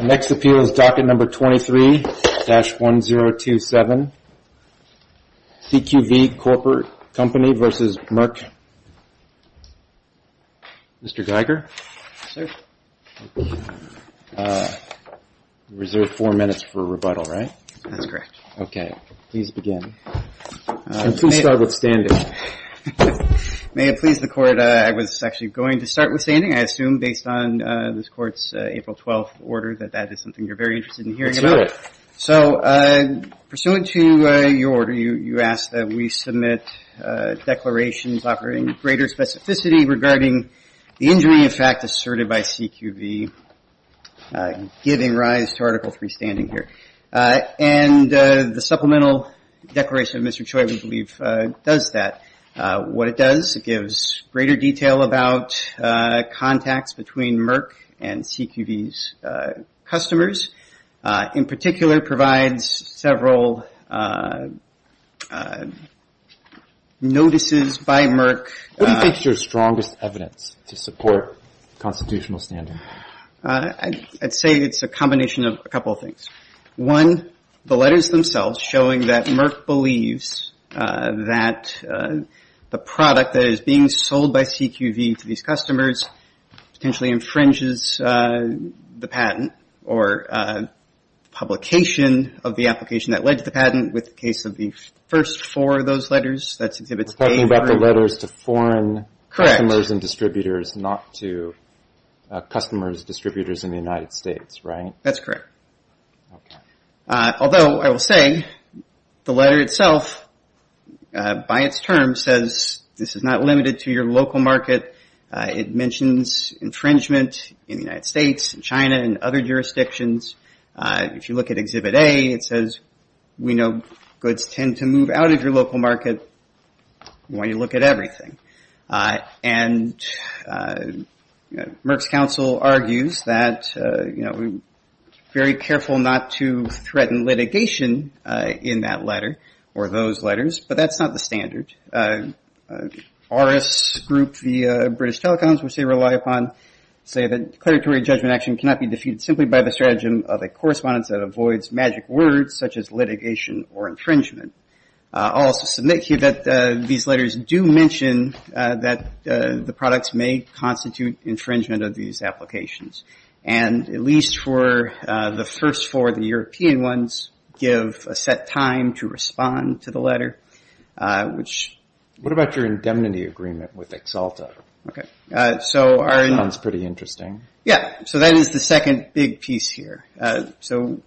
Next appeal is Docket 23-1027 CQV Co., Ltd. v. Merck Patent GmbH Mr. Geiger, you reserved four minutes for rebuttal, right? That's correct. Okay, please begin. Please start with standing. May it please the Court, I was actually going to start with standing. I assume based on this Court's April 12th order that that is something you're very interested in hearing about. Let's do it. So pursuant to your order, you ask that we submit declarations offering greater specificity regarding the injury, in fact, asserted by CQV giving rise to Article 3 standing here. And the supplemental declaration of Mr. Choi, we believe, does that. What it does, it gives greater detail about contacts between Merck and CQV's customers. In particular, it provides several notices by Merck. What do you think is your strongest evidence to support constitutional standing? I'd say it's a combination of a couple of things. One, the letters themselves showing that Merck believes that the product that is being sold by CQV to these customers potentially infringes the patent or publication of the application that led to the patent. With the case of the first four of those letters, that's Exhibit A. You're talking about the letters to foreign customers and distributors, not to customers, distributors in the United States, right? That's correct. Although, I will say, the letter itself, by its term, says this is not limited to your local market. It mentions infringement in the United States and China and other jurisdictions. If you look at Exhibit A, it says we know goods tend to move out of your local market when you look at everything. And Merck's counsel argues that we're very careful not to threaten litigation in that letter or those letters, but that's not the standard. Our group, the British Telecoms, which they rely upon, say that declaratory judgment action cannot be defeated simply by the stratagem of a correspondence that avoids magic words such as litigation or infringement. I'll also submit here that these letters do mention that the products may constitute infringement of these applications, and at least for the first four, the European ones, give a set time to respond to the letter. What about your indemnity agreement with Exalta? That sounds pretty interesting. Yeah, so that is the second big piece here. So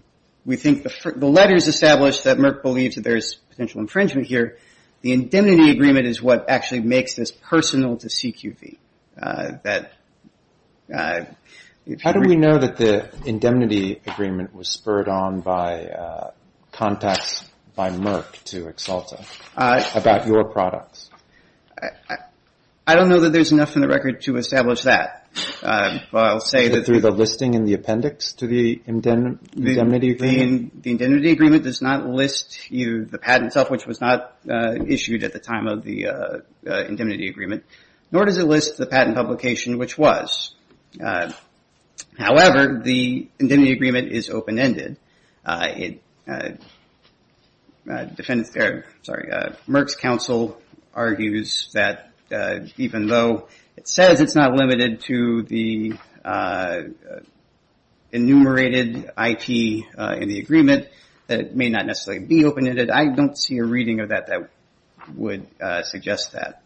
we think the letters establish that Merck believes that there's potential infringement here. The indemnity agreement is what actually makes this personal to CQV. How do we know that the indemnity agreement was spurred on by contacts by Merck to Exalta about your products? I don't know that there's enough in the record to establish that. Through the listing in the appendix to the indemnity agreement? The indemnity agreement does not list the patent itself, which was not issued at the time of the indemnity agreement, nor does it list the patent publication, which was. However, the indemnity agreement is open-ended. Merck's counsel argues that even though it says it's not limited to the enumerated IT in the agreement, that it may not necessarily be open-ended. I don't see a reading of that that would suggest that.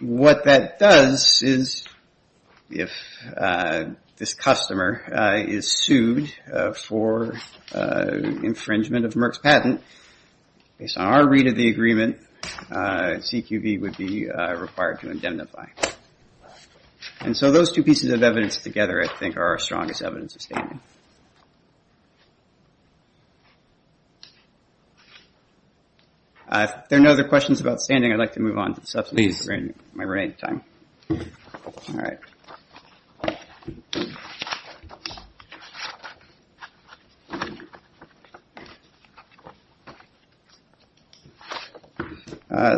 What that does is if this customer is sued for infringement of Merck's patent, based on our read of the agreement, CQV would be required to indemnify. And so those two pieces of evidence together, I think, are our strongest evidence of standing. If there are no other questions about standing, I'd like to move on to the substantive agreement at my remaining time. All right.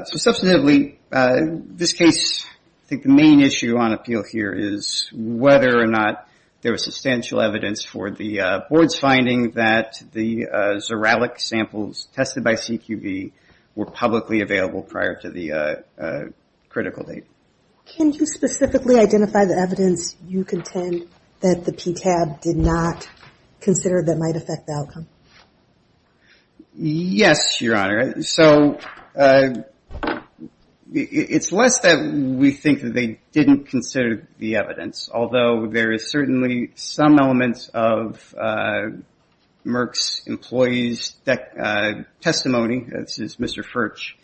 So substantively, this case, I think the main issue on appeal here is whether or not there was substantial evidence for the board's finding that the Xuralic samples tested by CQV were publicly available prior to the critical date. Can you specifically identify the evidence you contend that the PTAB did not consider that might affect the outcome? Yes, Your Honor. So it's less that we think that they didn't consider the evidence, although there is certainly some elements of Merck's employees' testimony, this is Mr. Furch,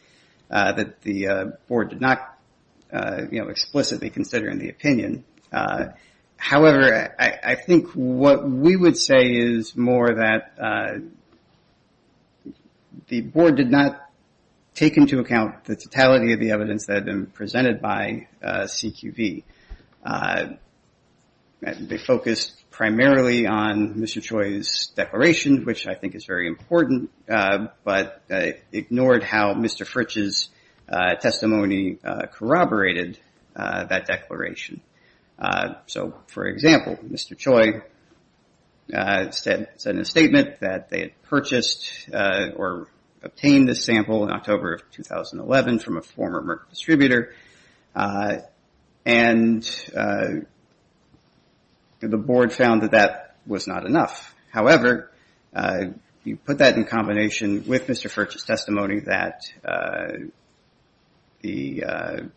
that the board did not explicitly consider in the opinion. However, I think what we would say is more that the board did not take into account the totality of the evidence that had been presented by CQV. They focused primarily on Mr. Choi's declaration, which I think is very important, but ignored how Mr. Furch's testimony corroborated that declaration. So, for example, Mr. Choi said in a statement that they had purchased or obtained this sample in October of 2011 from a former Merck distributor, and the board found that that was not enough. However, you put that in combination with Mr. Furch's testimony that the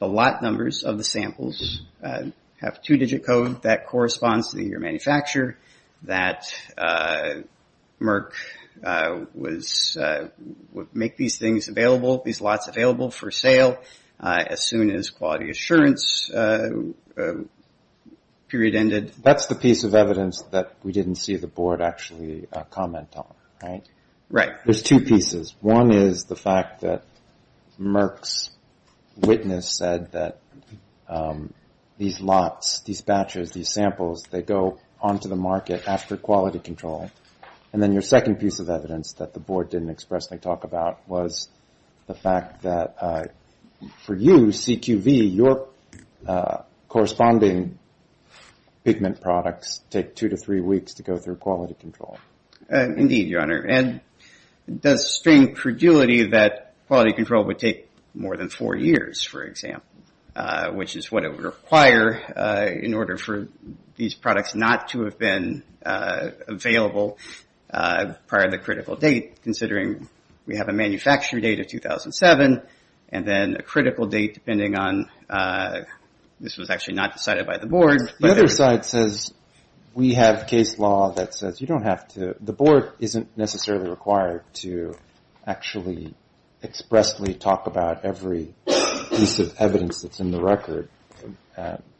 lot numbers of the samples have two-digit code that corresponds to the year of manufacture, that Merck would make these things available, these lots available for sale as soon as quality assurance period ended. That's the piece of evidence that we didn't see the board actually comment on, right? There's two pieces. One is the fact that Merck's witness said that these lots, these batches, these samples, they go onto the market after quality control. And then your second piece of evidence that the board didn't expressly talk about was the fact that for you, CQV, your corresponding pigment products take two to three weeks to go through quality control. Indeed, Your Honor, and it does strain credulity that quality control would take more than four years, for example, which is what it would require in order for these products not to have been available prior to the critical date, considering we have a manufacture date of 2007 and then a critical date depending on, this was actually not decided by the board. The other side says we have case law that says you don't have to, the board isn't necessarily required to actually expressly talk about every piece of evidence that's in the record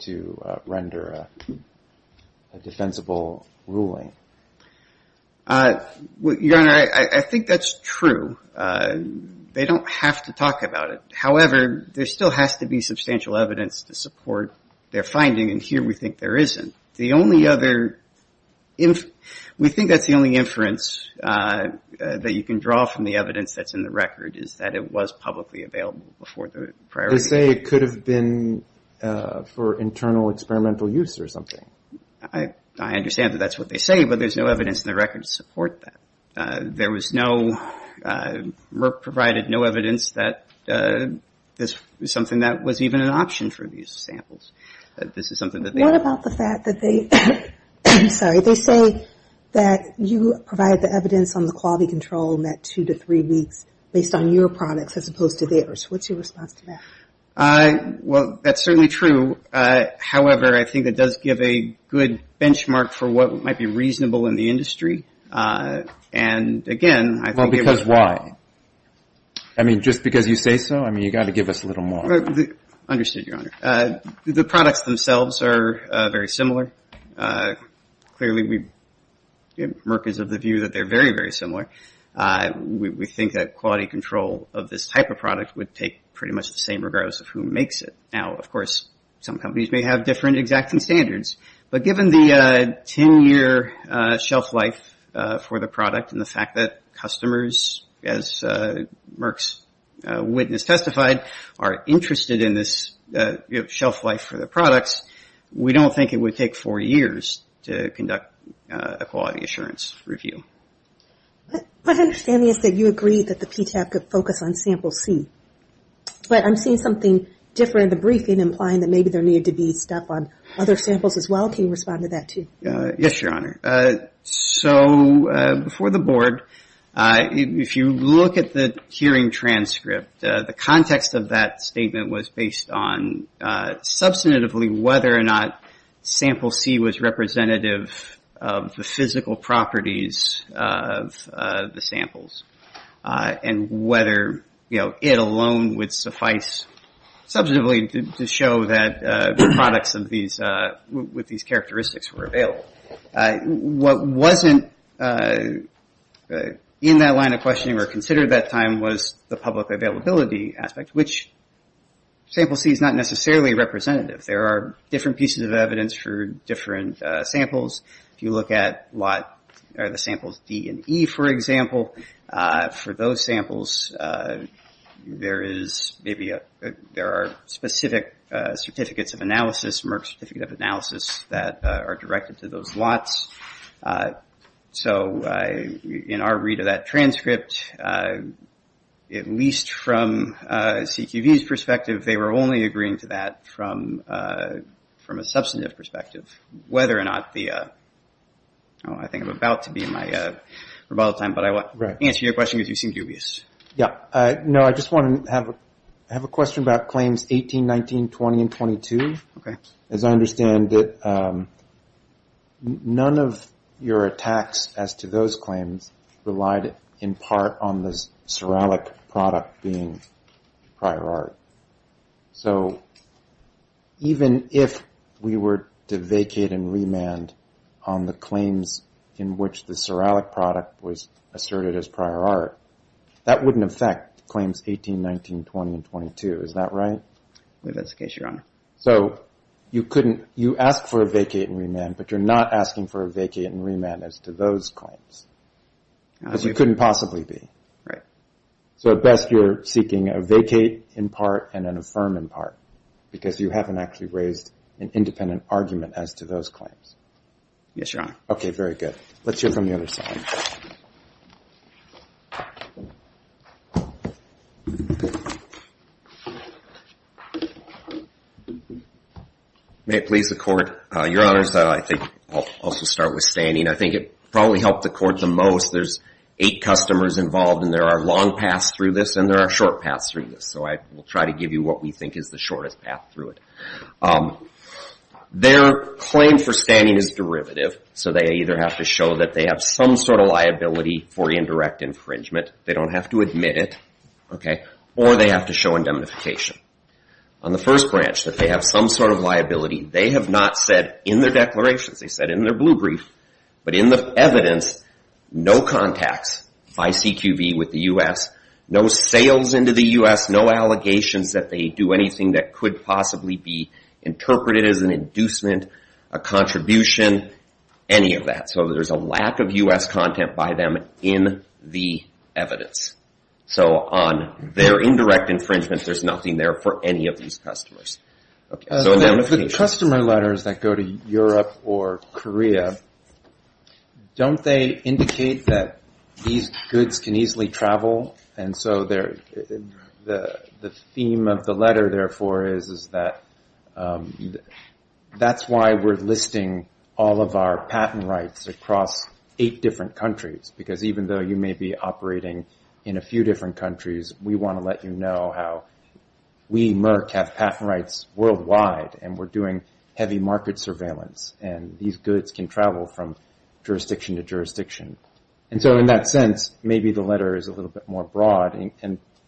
to render a defensible ruling. Your Honor, I think that's true. They don't have to talk about it. However, there still has to be substantial evidence to support their finding and here we think there isn't. The only other, we think that's the only inference that you can draw from the evidence that's in the record is that it was publicly available before the priority date. They say it could have been for internal experimental use or something. I understand that that's what they say, but there's no evidence in the record to support that. There was no, Merck provided no evidence that this was something that was even an option for the use of samples. What about the fact that they, I'm sorry, they say that you provide the evidence on the quality control in that two to three weeks based on your products as opposed to theirs. What's your response to that? Well, that's certainly true. However, I think it does give a good benchmark for what might be reasonable in the industry. And again, I think it was. Why? I mean, just because you say so, I mean, you've got to give us a little more. Understood, Your Honor. The products themselves are very similar. Clearly, Merck is of the view that they're very, very similar. We think that quality control of this type of product would take pretty much the same regardless of who makes it. Now, of course, some companies may have different exacting standards, but given the ten-year shelf life for the product and the fact that customers, as Merck's witness testified, are interested in this shelf life for the products, we don't think it would take four years to conduct a quality assurance review. My understanding is that you agree that the PTAC could focus on sample C. But I'm seeing something different in the briefing, implying that maybe there needed to be stuff on other samples as well. Can you respond to that, too? Yes, Your Honor. So, before the Board, if you look at the hearing transcript, the context of that statement was based on substantively whether or not sample C was representative of the physical properties of the product. And whether it alone would suffice substantively to show that the products with these characteristics were available. What wasn't in that line of questioning or considered at that time was the public availability aspect, which sample C is not necessarily representative. There are different pieces of evidence for different samples. If you look at the samples that are listed, D and E, for example, for those samples, there are specific certificates of analysis, Merck's certificate of analysis, that are directed to those lots. So, in our read of that transcript, at least from CQV's perspective, they were only agreeing to that from a substantive perspective, whether or not the... I think I'm about to be in my rebuttal time, but I want to answer your question because you seem dubious. No, I just want to have a question about claims 18, 19, 20, and 22. As I understand it, none of your attacks as to those claims relied in part on the ceralic product being prior art. So, even if we were able to prove that the product was prior art, it would still be prior art. If we were to vacate and remand on the claims in which the ceralic product was asserted as prior art, that wouldn't affect claims 18, 19, 20, and 22. Is that right? That's the case, Your Honor. So, you ask for a vacate and remand, but you're not asking for a vacate and remand as to those claims, as you couldn't possibly be. So, at best, you're asking for a vacate and remand as to those claims. Yes, Your Honor. Okay, very good. Let's hear from the other side. May it please the Court. Your Honors, I think I'll also start with standing. I think it probably helped the Court the most. There's eight customers involved, and there are long paths through this, and there are short paths through this. So, I will try to give you what we think is the shortest path. Their claim for standing is derivative, so they either have to show that they have some sort of liability for indirect infringement, they don't have to admit it, or they have to show indemnification. On the first branch, that they have some sort of liability, they have not said in their declarations, they said in their blue brief, but in the evidence, no contacts by CQV with the U.S., no sales into the U.S., no allegations that they do anything that could possibly be interpreted as an inducement, a contribution, any of that. So, there's a lack of U.S. content by them in the evidence. So, on their indirect infringement, there's nothing there for any of these customers. The customer letters that go to Europe or Korea, don't they indicate that these goods can easily travel, and so the theme of the letter is that that's why we're listing all of our patent rights across eight different countries, because even though you may be operating in a few different countries, we want to let you know how we, Merck, have patent rights worldwide, and we're doing heavy market surveillance, and these goods can travel from jurisdiction to jurisdiction. So, in that sense, maybe the letter is a little bit more broad,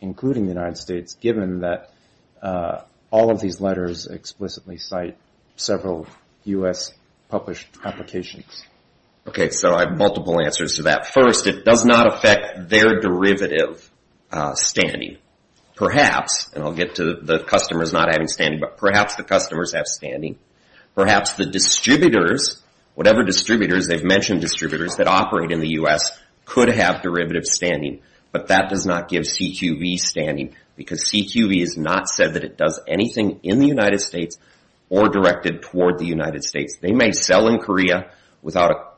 including the United States, given that all of these letters explicitly cite several U.S. published applications. Okay, so I have multiple answers to that. First, it does not affect their derivative standing. Perhaps, and I'll get to the customers not having standing, but perhaps the customers have standing. Perhaps the distributors, whatever distributors, they've mentioned distributors that operate in the U.S., could have derivative standing, but that does not give CQV standing, because CQV is not said that it's a derivative. It's just that it does anything in the United States or directed toward the United States. They may sell in Korea without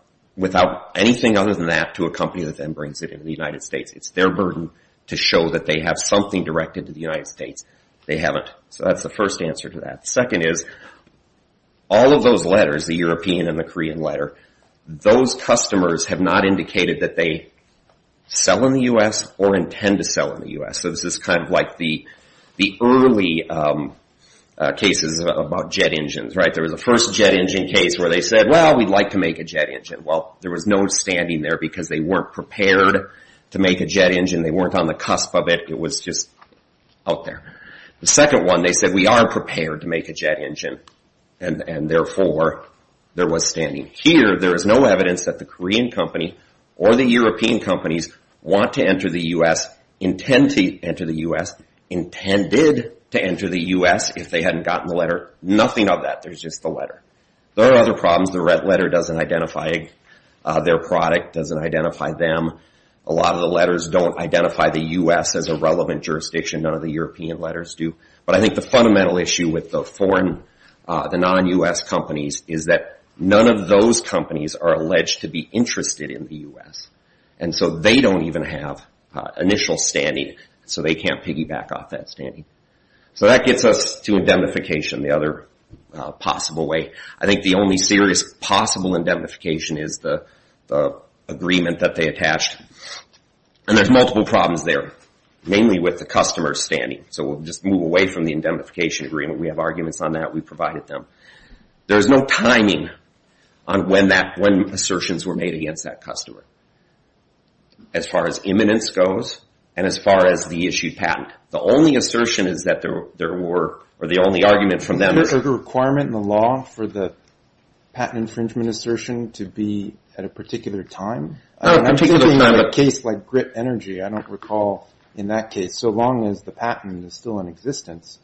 anything other than that to a company that then brings it into the United States. It's their burden to show that they have something directed to the United States. They haven't. So, that's the first answer to that. The second is, all of those letters, the European and the Korean letter, those customers have not indicated that they sell in the U.S. or intend to sell in the U.S. So, this is kind of like the early, you know, the early, you know, the early cases about jet engines, right? There was a first jet engine case where they said, well, we'd like to make a jet engine. Well, there was no standing there because they weren't prepared to make a jet engine. They weren't on the cusp of it. It was just out there. The second one, they said, we are prepared to make a jet engine, and therefore, there was standing. Here, there is no evidence that the Korean company or the European companies want to enter the U.S., intend to enter the U.S., intended to enter the U.S., if they hadn't gotten the letter. Nothing of that. There's just the letter. There are other problems. The red letter doesn't identify their product, doesn't identify them. A lot of the letters don't identify the U.S. as a relevant jurisdiction. None of the European letters do. But I think the fundamental issue with the foreign, the non-U.S. companies is that none of those companies are alleged to be interested in the U.S. And so, they don't even have initial standing. So, they can't piggyback off that standing. So, that kind of thing. That gets us to indemnification, the other possible way. I think the only serious possible indemnification is the agreement that they attached. And there's multiple problems there, mainly with the customer standing. So, we'll just move away from the indemnification agreement. We have arguments on that. We provided them. There's no timing on when assertions were made against that customer, as far as the only argument from them. Is there a requirement in the law for the patent infringement assertion to be at a particular time? I'm thinking of a case like Grit Energy. I don't recall in that case. So, long as the patent is still in existence,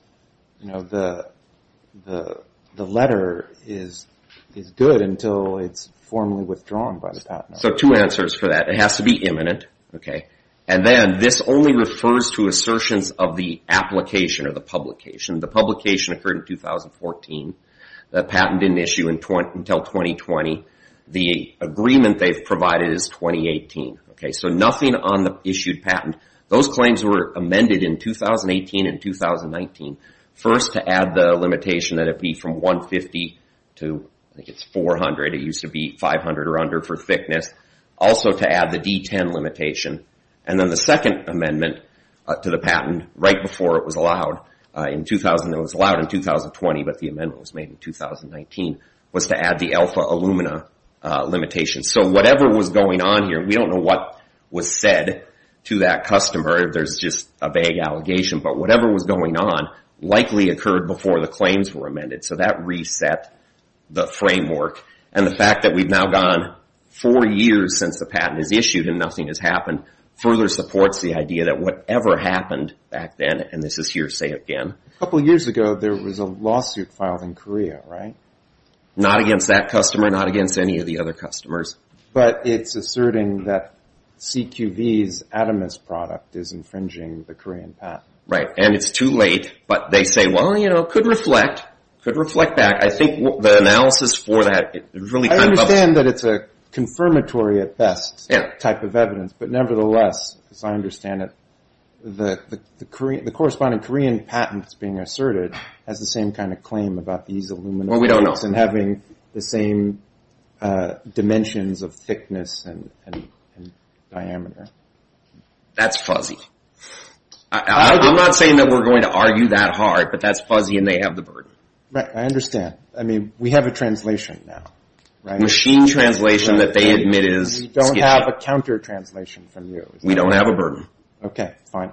the letter is good until it's formally withdrawn by the patent. So, two answers for that. It has to be imminent. And then, this only refers to assertions of the application or the publication. The publication occurred in 2014. The patent didn't issue until 2020. The agreement they've provided is 2018. So, nothing on the issued patent. Those claims were amended in 2018 and 2019. First, to add the limitation that it be from 150 to 400. It used to be 500 or under for thickness. Also, to add the D10 limitation. And then, the second amendment to the patent, right before it was allowed in 2020, but the amendment was made in 2019, was to add the alpha alumina limitation. So, whatever was going on here, we don't know what was said to that customer. There's just a vague allegation. But, whatever was going on likely occurred before the claims were amended. So, that reset the framework. And the fact that we've now gone four years since the patent is issued and nothing has changed, I think it's a good thing. A couple years ago, there was a lawsuit filed in Korea, right? Not against that customer. Not against any of the other customers. But, it's asserting that CQV's atomist product is infringing the Korean patent. Right. And, it's too late. But, they say, well, you know, it could reflect. It could reflect back. I think the analysis for that, it really kind of... I understand that it's a confirmatory, at best, type of evidence. But, nevertheless, as I understand it, the Korean, the Korean patent is being asserted, has the same kind of claim about these aluminum... Well, we don't know. ...and having the same dimensions of thickness and diameter. That's fuzzy. I'm not saying that we're going to argue that hard, but that's fuzzy and they have the burden. Right. I understand. I mean, we have a translation now. Machine translation that they admit is... We don't have a counter translation from you. We don't have a burden. Okay. Fine.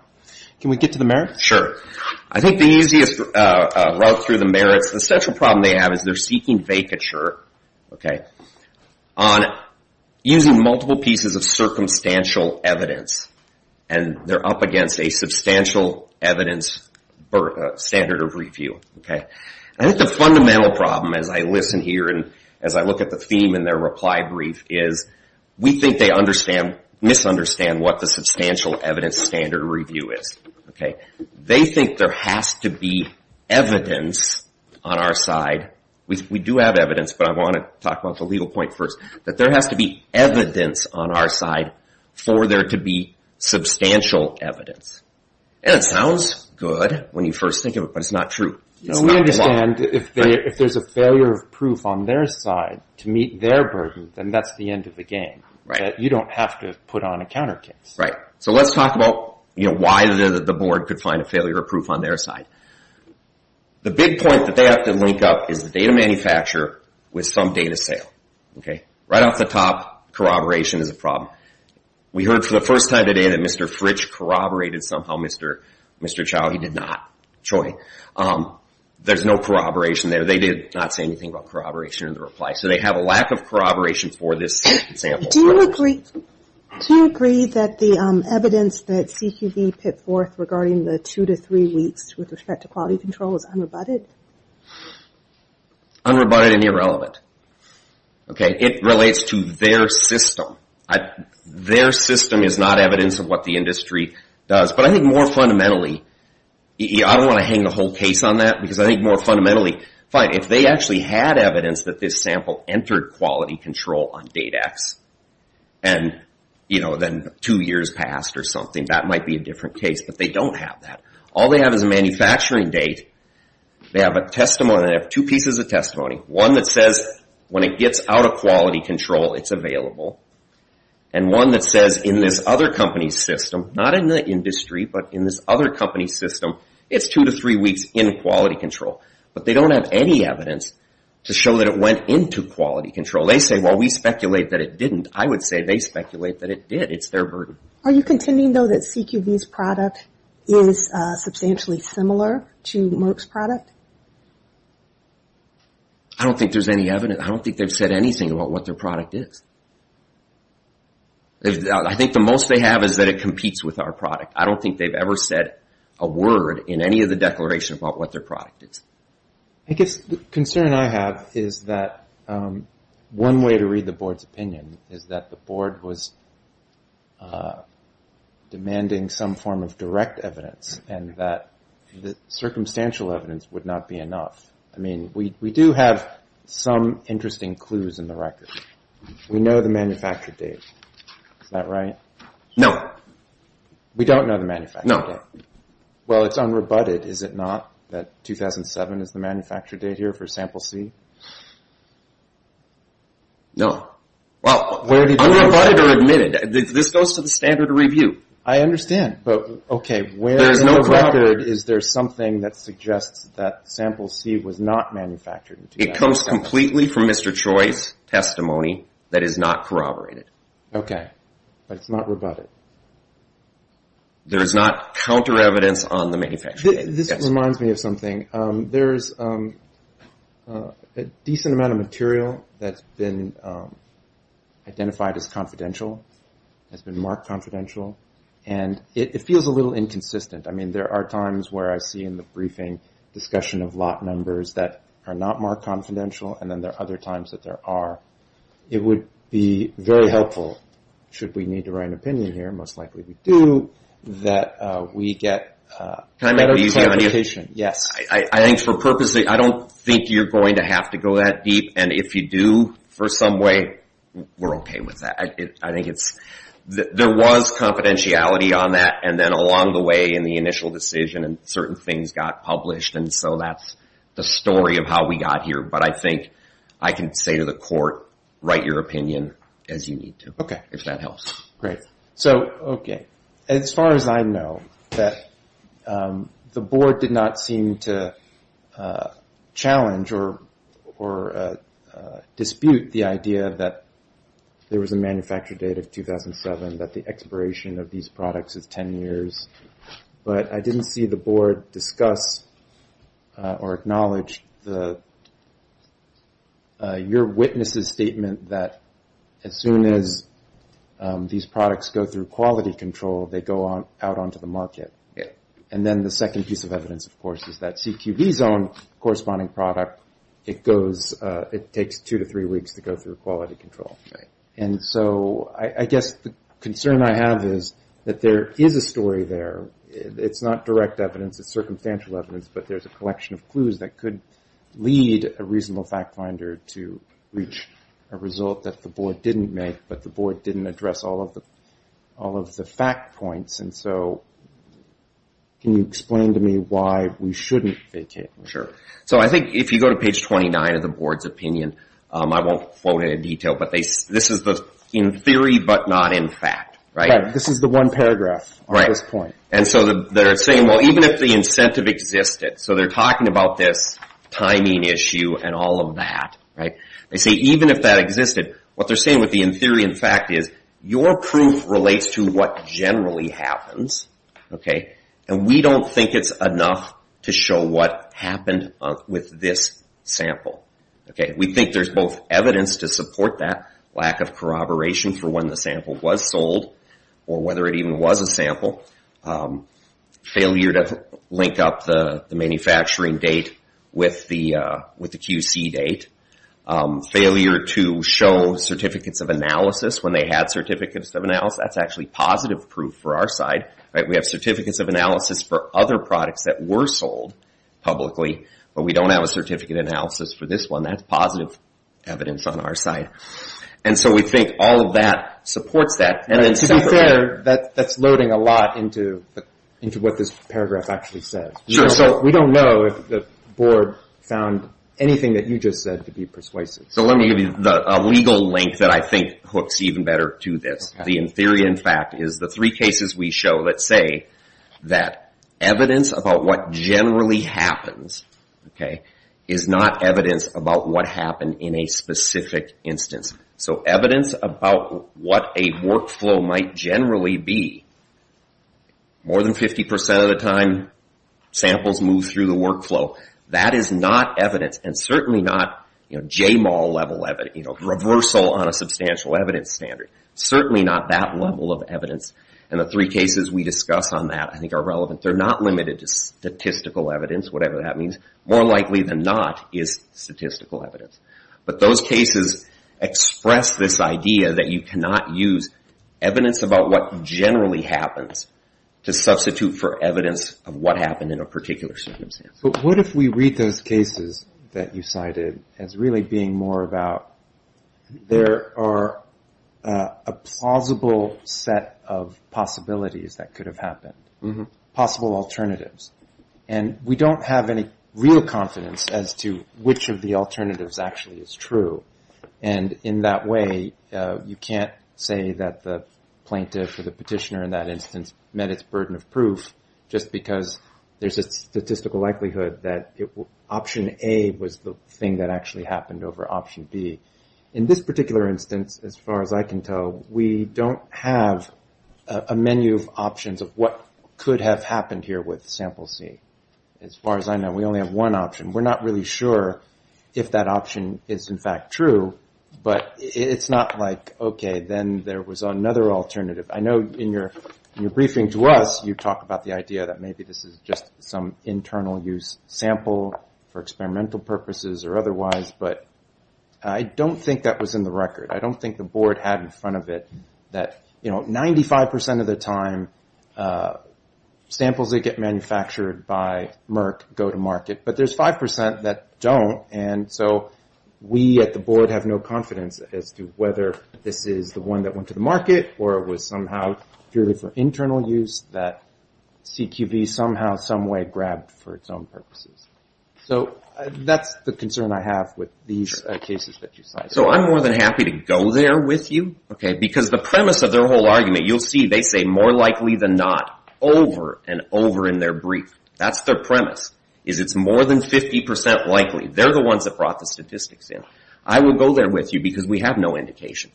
Can we get to the merits? Sure. I think the easiest route through the merits, the central problem they have is they're seeking vacature on using multiple pieces of circumstantial evidence. And, they're up against a substantial evidence standard of review. I think the fundamental problem, as I listen here and as I look at the theme in their reply brief, is we think they misunderstand what the substantial evidence standard of review is. They think there has to be evidence on our side. We do have evidence, but I want to talk about the legal point first. That there has to be evidence on our side for there to be substantial evidence. And, it sounds good when you first think of it, but it's not true. We understand if there's a failure of proof on their side to meet their burden, then that's the end of the game. You don't have to put on a counter case. So, let's talk about why the board could find a failure of proof on their side. The big point that they have to link up is the data manufacturer with some data sale. Right off the top, corroboration is a problem. We heard for the first time today that Mr. Fritsch corroborated somehow Mr. Chow. He did not. There's no corroboration there. They did not say anything about corroboration in the reply. So, they have a lack of corroboration for this sample. Do you agree that the evidence that CPV put forth regarding the two to three weeks with respect to quality control is unrebutted? Unrebutted and irrelevant. It relates to their system. Their system is not evidence of what the industry does. But, I think more fundamentally, I don't want to hang the whole case on that because I think more fundamentally, fine, if they actually had evidence that this sample entered quality control on date X and two years passed or something, that might be a different case. But, they don't have that. All they have is a manufacturing date. They have a testimony. They have two pieces of testimony. One that says when it gets out of quality control, it's available. And one that says in this other company's system, not in the industry, but in this other company's system, it's two to three weeks in quality control. But, they don't have any evidence to show that it went into quality control. They say, well, we speculate that it didn't. I would say they speculate that it did. It's their burden. Are you contending, though, that CQV's product is substantially similar to Merck's product? I don't think there's any evidence. I don't think they've said anything about what their product is. I think the most they have is that it competes with our product. I don't think they've ever said a word in any of the declaration about what their product is. I guess the concern I have is that one way to read the board's opinion is that the board was demanding some form of direct evidence and that the circumstantial evidence would not be enough. I mean, we do have some interesting clues in the record. We know the manufacture date. Is that right? No. We don't know the manufacture date. No. Well, it's unrebutted, is it not, that 2007 is the manufacture date here for sample C? No. Well, unrebutted or admitted. This goes to the standard review. I understand. But, okay, where in the record is there something that suggests that sample C was not manufactured in 2007? It comes completely from Mr. Choi's testimony that is not corroborated. Okay. But it's not rebutted. There's not counter evidence on the manufacture date. This reminds me of something. There's a decent amount of material that's been identified as confidential, has been marked confidential, and it feels a little inconsistent. I mean, there are times where I see in the briefing discussion of lot numbers that are not marked confidential, and then there are other times that there are. It would be very helpful, should we need to write an opinion here, most likely we do, that we get better clarification. Yes. I think for purposes, I don't think you're going to have to go that deep, and if you do for some way, we're okay with that. I think it's, there was confidentiality on that, and then along the way in the initial decision and certain things got published, and so that's the story of how we got here. But I think I can say to the court, write your opinion as you need to. Okay. If that helps. Great. So, okay. As far as I know, that the board did not seem to challenge or dispute the idea that there was a manufacture date of 2007, that the expiration of these products is 10 years, but I didn't see the board discuss or acknowledge your witness's statement that as soon as these products go through quality control, they go out onto the market. And then the second piece of evidence, of course, is that CQB's own corresponding product, it goes, it takes two to three weeks to go through quality control. And so, I guess the concern I have is that there is a story there. It's not direct evidence, it's circumstantial evidence, but there's a collection of clues that could lead a reasonable fact finder to reach a result that the board didn't make, but the board didn't address all of the fact points. And so, can you explain to me why we shouldn't vacate? Sure. So, I think if you go to page 29 of the board's opinion, I won't quote in detail, but this is in theory, but not in fact. Right. This is the one paragraph on this point. And so, they're saying even if the incentive existed, so they're talking about this timing issue and all of that. They say even if that existed, what they're saying with the in theory and fact is, your proof relates to what generally happens, and we don't think it's enough to show what happened with this sample. We think there's both evidence to support that, lack of corroboration for when the sample was sold, or whether it even was a sample, failure to link up the manufacturing date with the QC date, failure to show certificates of analysis when they had certificates of analysis. That's actually positive proof for our side. We have certificates of analysis for other products that were sold publicly, but we don't have a certificate of analysis for this one. That's positive evidence on our side. And so, we think all of that supports that. To be fair, that's loading a lot into what this paragraph actually says. So, we don't know if the board found anything that you just said to be persuasive. So, let me give you a legal link that I think hooks even better to this. The in theory and fact is the three cases we show that say that evidence about what generally happens is not evidence about what happened in a specific instance. So, evidence about what a workflow might generally be more than 50% of the time, samples move through the workflow. That is not evidence, and certainly not JMAL level, reversal on a substantial evidence standard. Certainly not that level of evidence. And the three cases we discuss on that I think are relevant. They're not limited to statistical evidence, whatever that means. More likely than not is statistical evidence. But those cases express this idea that you cannot use evidence about what generally happens to substitute for evidence of what happened in a particular circumstance. But what if we read those cases that you cited as really being more about there are a plausible set of possibilities that could have happened. Possible alternatives. And we don't have any real confidence as to which of the alternatives actually is true. And in that way, you can't say that the plaintiff or the petitioner in that instance met its burden of proof just because there's a statistical likelihood that option A was the thing that actually happened over option B. In this particular instance, as far as I can tell, we don't have a menu of options of what could have happened here with sample C. As far as I know, we only have one option. We're not really sure if that option is in fact true. But it's not like, okay, then there was another alternative. I know in your briefing to us, you talk about the idea that maybe this is just some internal use sample for experimental purposes or otherwise. But I don't think that was in the record. I don't think the board had in front of it that 95% of the time samples that get manufactured by Merck go to market. But there's 5% that don't and so we at the board have no confidence as to whether this is the one that went to the market or it was somehow purely for internal use that CQB somehow, someway grabbed for its own purposes. So that's the concern I have with these cases that you cite. So I'm more than happy to go there with you because the premise of their whole argument, you'll see they say more likely than not over and over in their brief. That's their premise, is it's more than 50% likely. They're the ones that brought the statistics in. I would go there with you because we have no indication.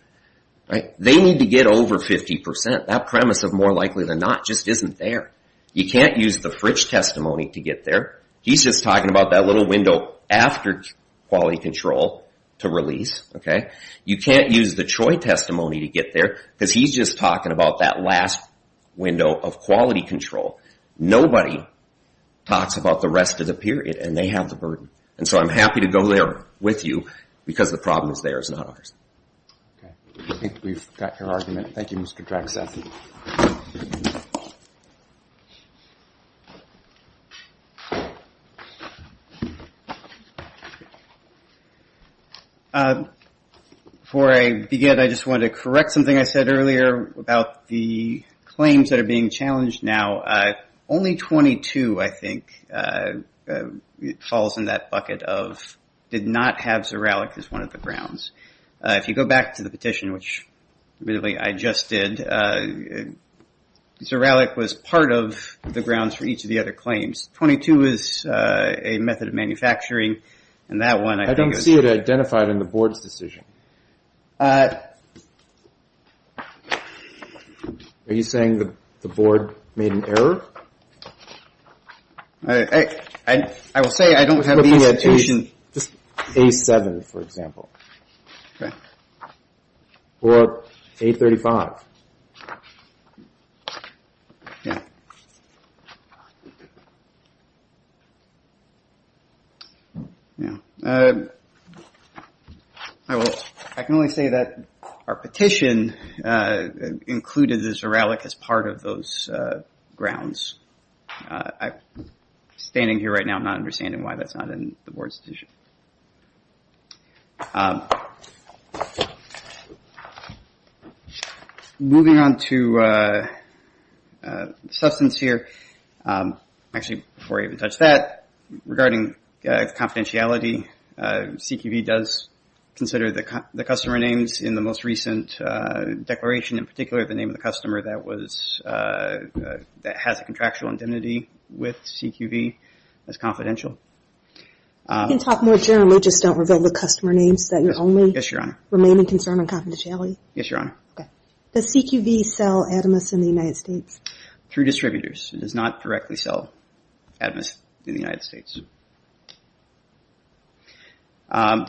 They need to get over 50%. That premise of more likely than not just isn't there. You can't use the Fritch testimony to get there. He's just talking about that little window after quality control to release. You can't use the Troy testimony to get there because he's just talking about that last window of quality control. Nobody talks about the rest of the period and they have the burden. And so I'm happy to go there with you because the problem is theirs, not ours. Thank you, Mr. Drexler. Before I begin, I just wanted to correct something I said earlier about the claims that are being challenged now. Only 22 I think falls in that bucket of did not have Zorallic as one of the grounds. If you go back to the petition, which really I just did, Zorallic was part of the grounds for each of the other claims. 22 is a method of manufacturing and that one... I don't see it identified in the board's decision. Are you saying the board made an error? I will say I don't have the incitation. Just A7 for example. Or A35. I can only say that our petition included the Zorallic as part of those grounds. Standing here right now, I'm not understanding why that's not in the board's decision. Moving on to substance here. Actually, before I even touch that, regarding confidentiality, CQV does consider the customer names in the most recent declaration, in particular the name of the customer that has a contractual indemnity with CQV as confidential. You can talk more generally, just don't reveal the customer names. Does CQV sell Atomos in the United States? Through distributors. It does not directly sell Atomos in the United States. I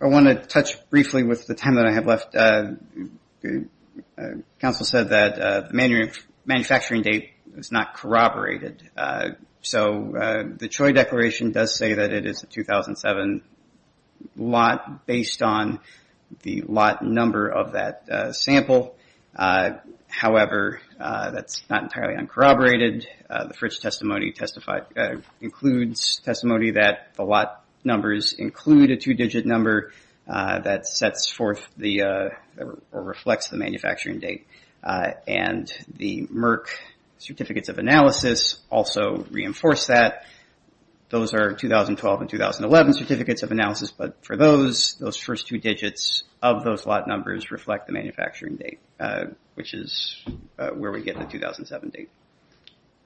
want to touch briefly with the time that I have left. Council said that the manufacturing date is not corroborated. So the Troy Declaration does say that it is a 2007 lot based on the lot number of that sample. However, that's not entirely uncorroborated. The Fritz testimony includes testimony that the lot numbers include a two digit number that reflects the manufacturing date. The Merck certificates of analysis also reinforce that. Those are 2012 and 2011 certificates of analysis, but for those, those first two digits of those lot numbers reflect the manufacturing date, which is where we get the 2007 date.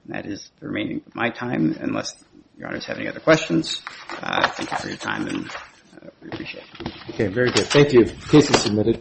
That is the remaining of my time, unless your honors have any other questions. Thank you for your time and we appreciate it. Okay, very good. Thank you. Case is submitted.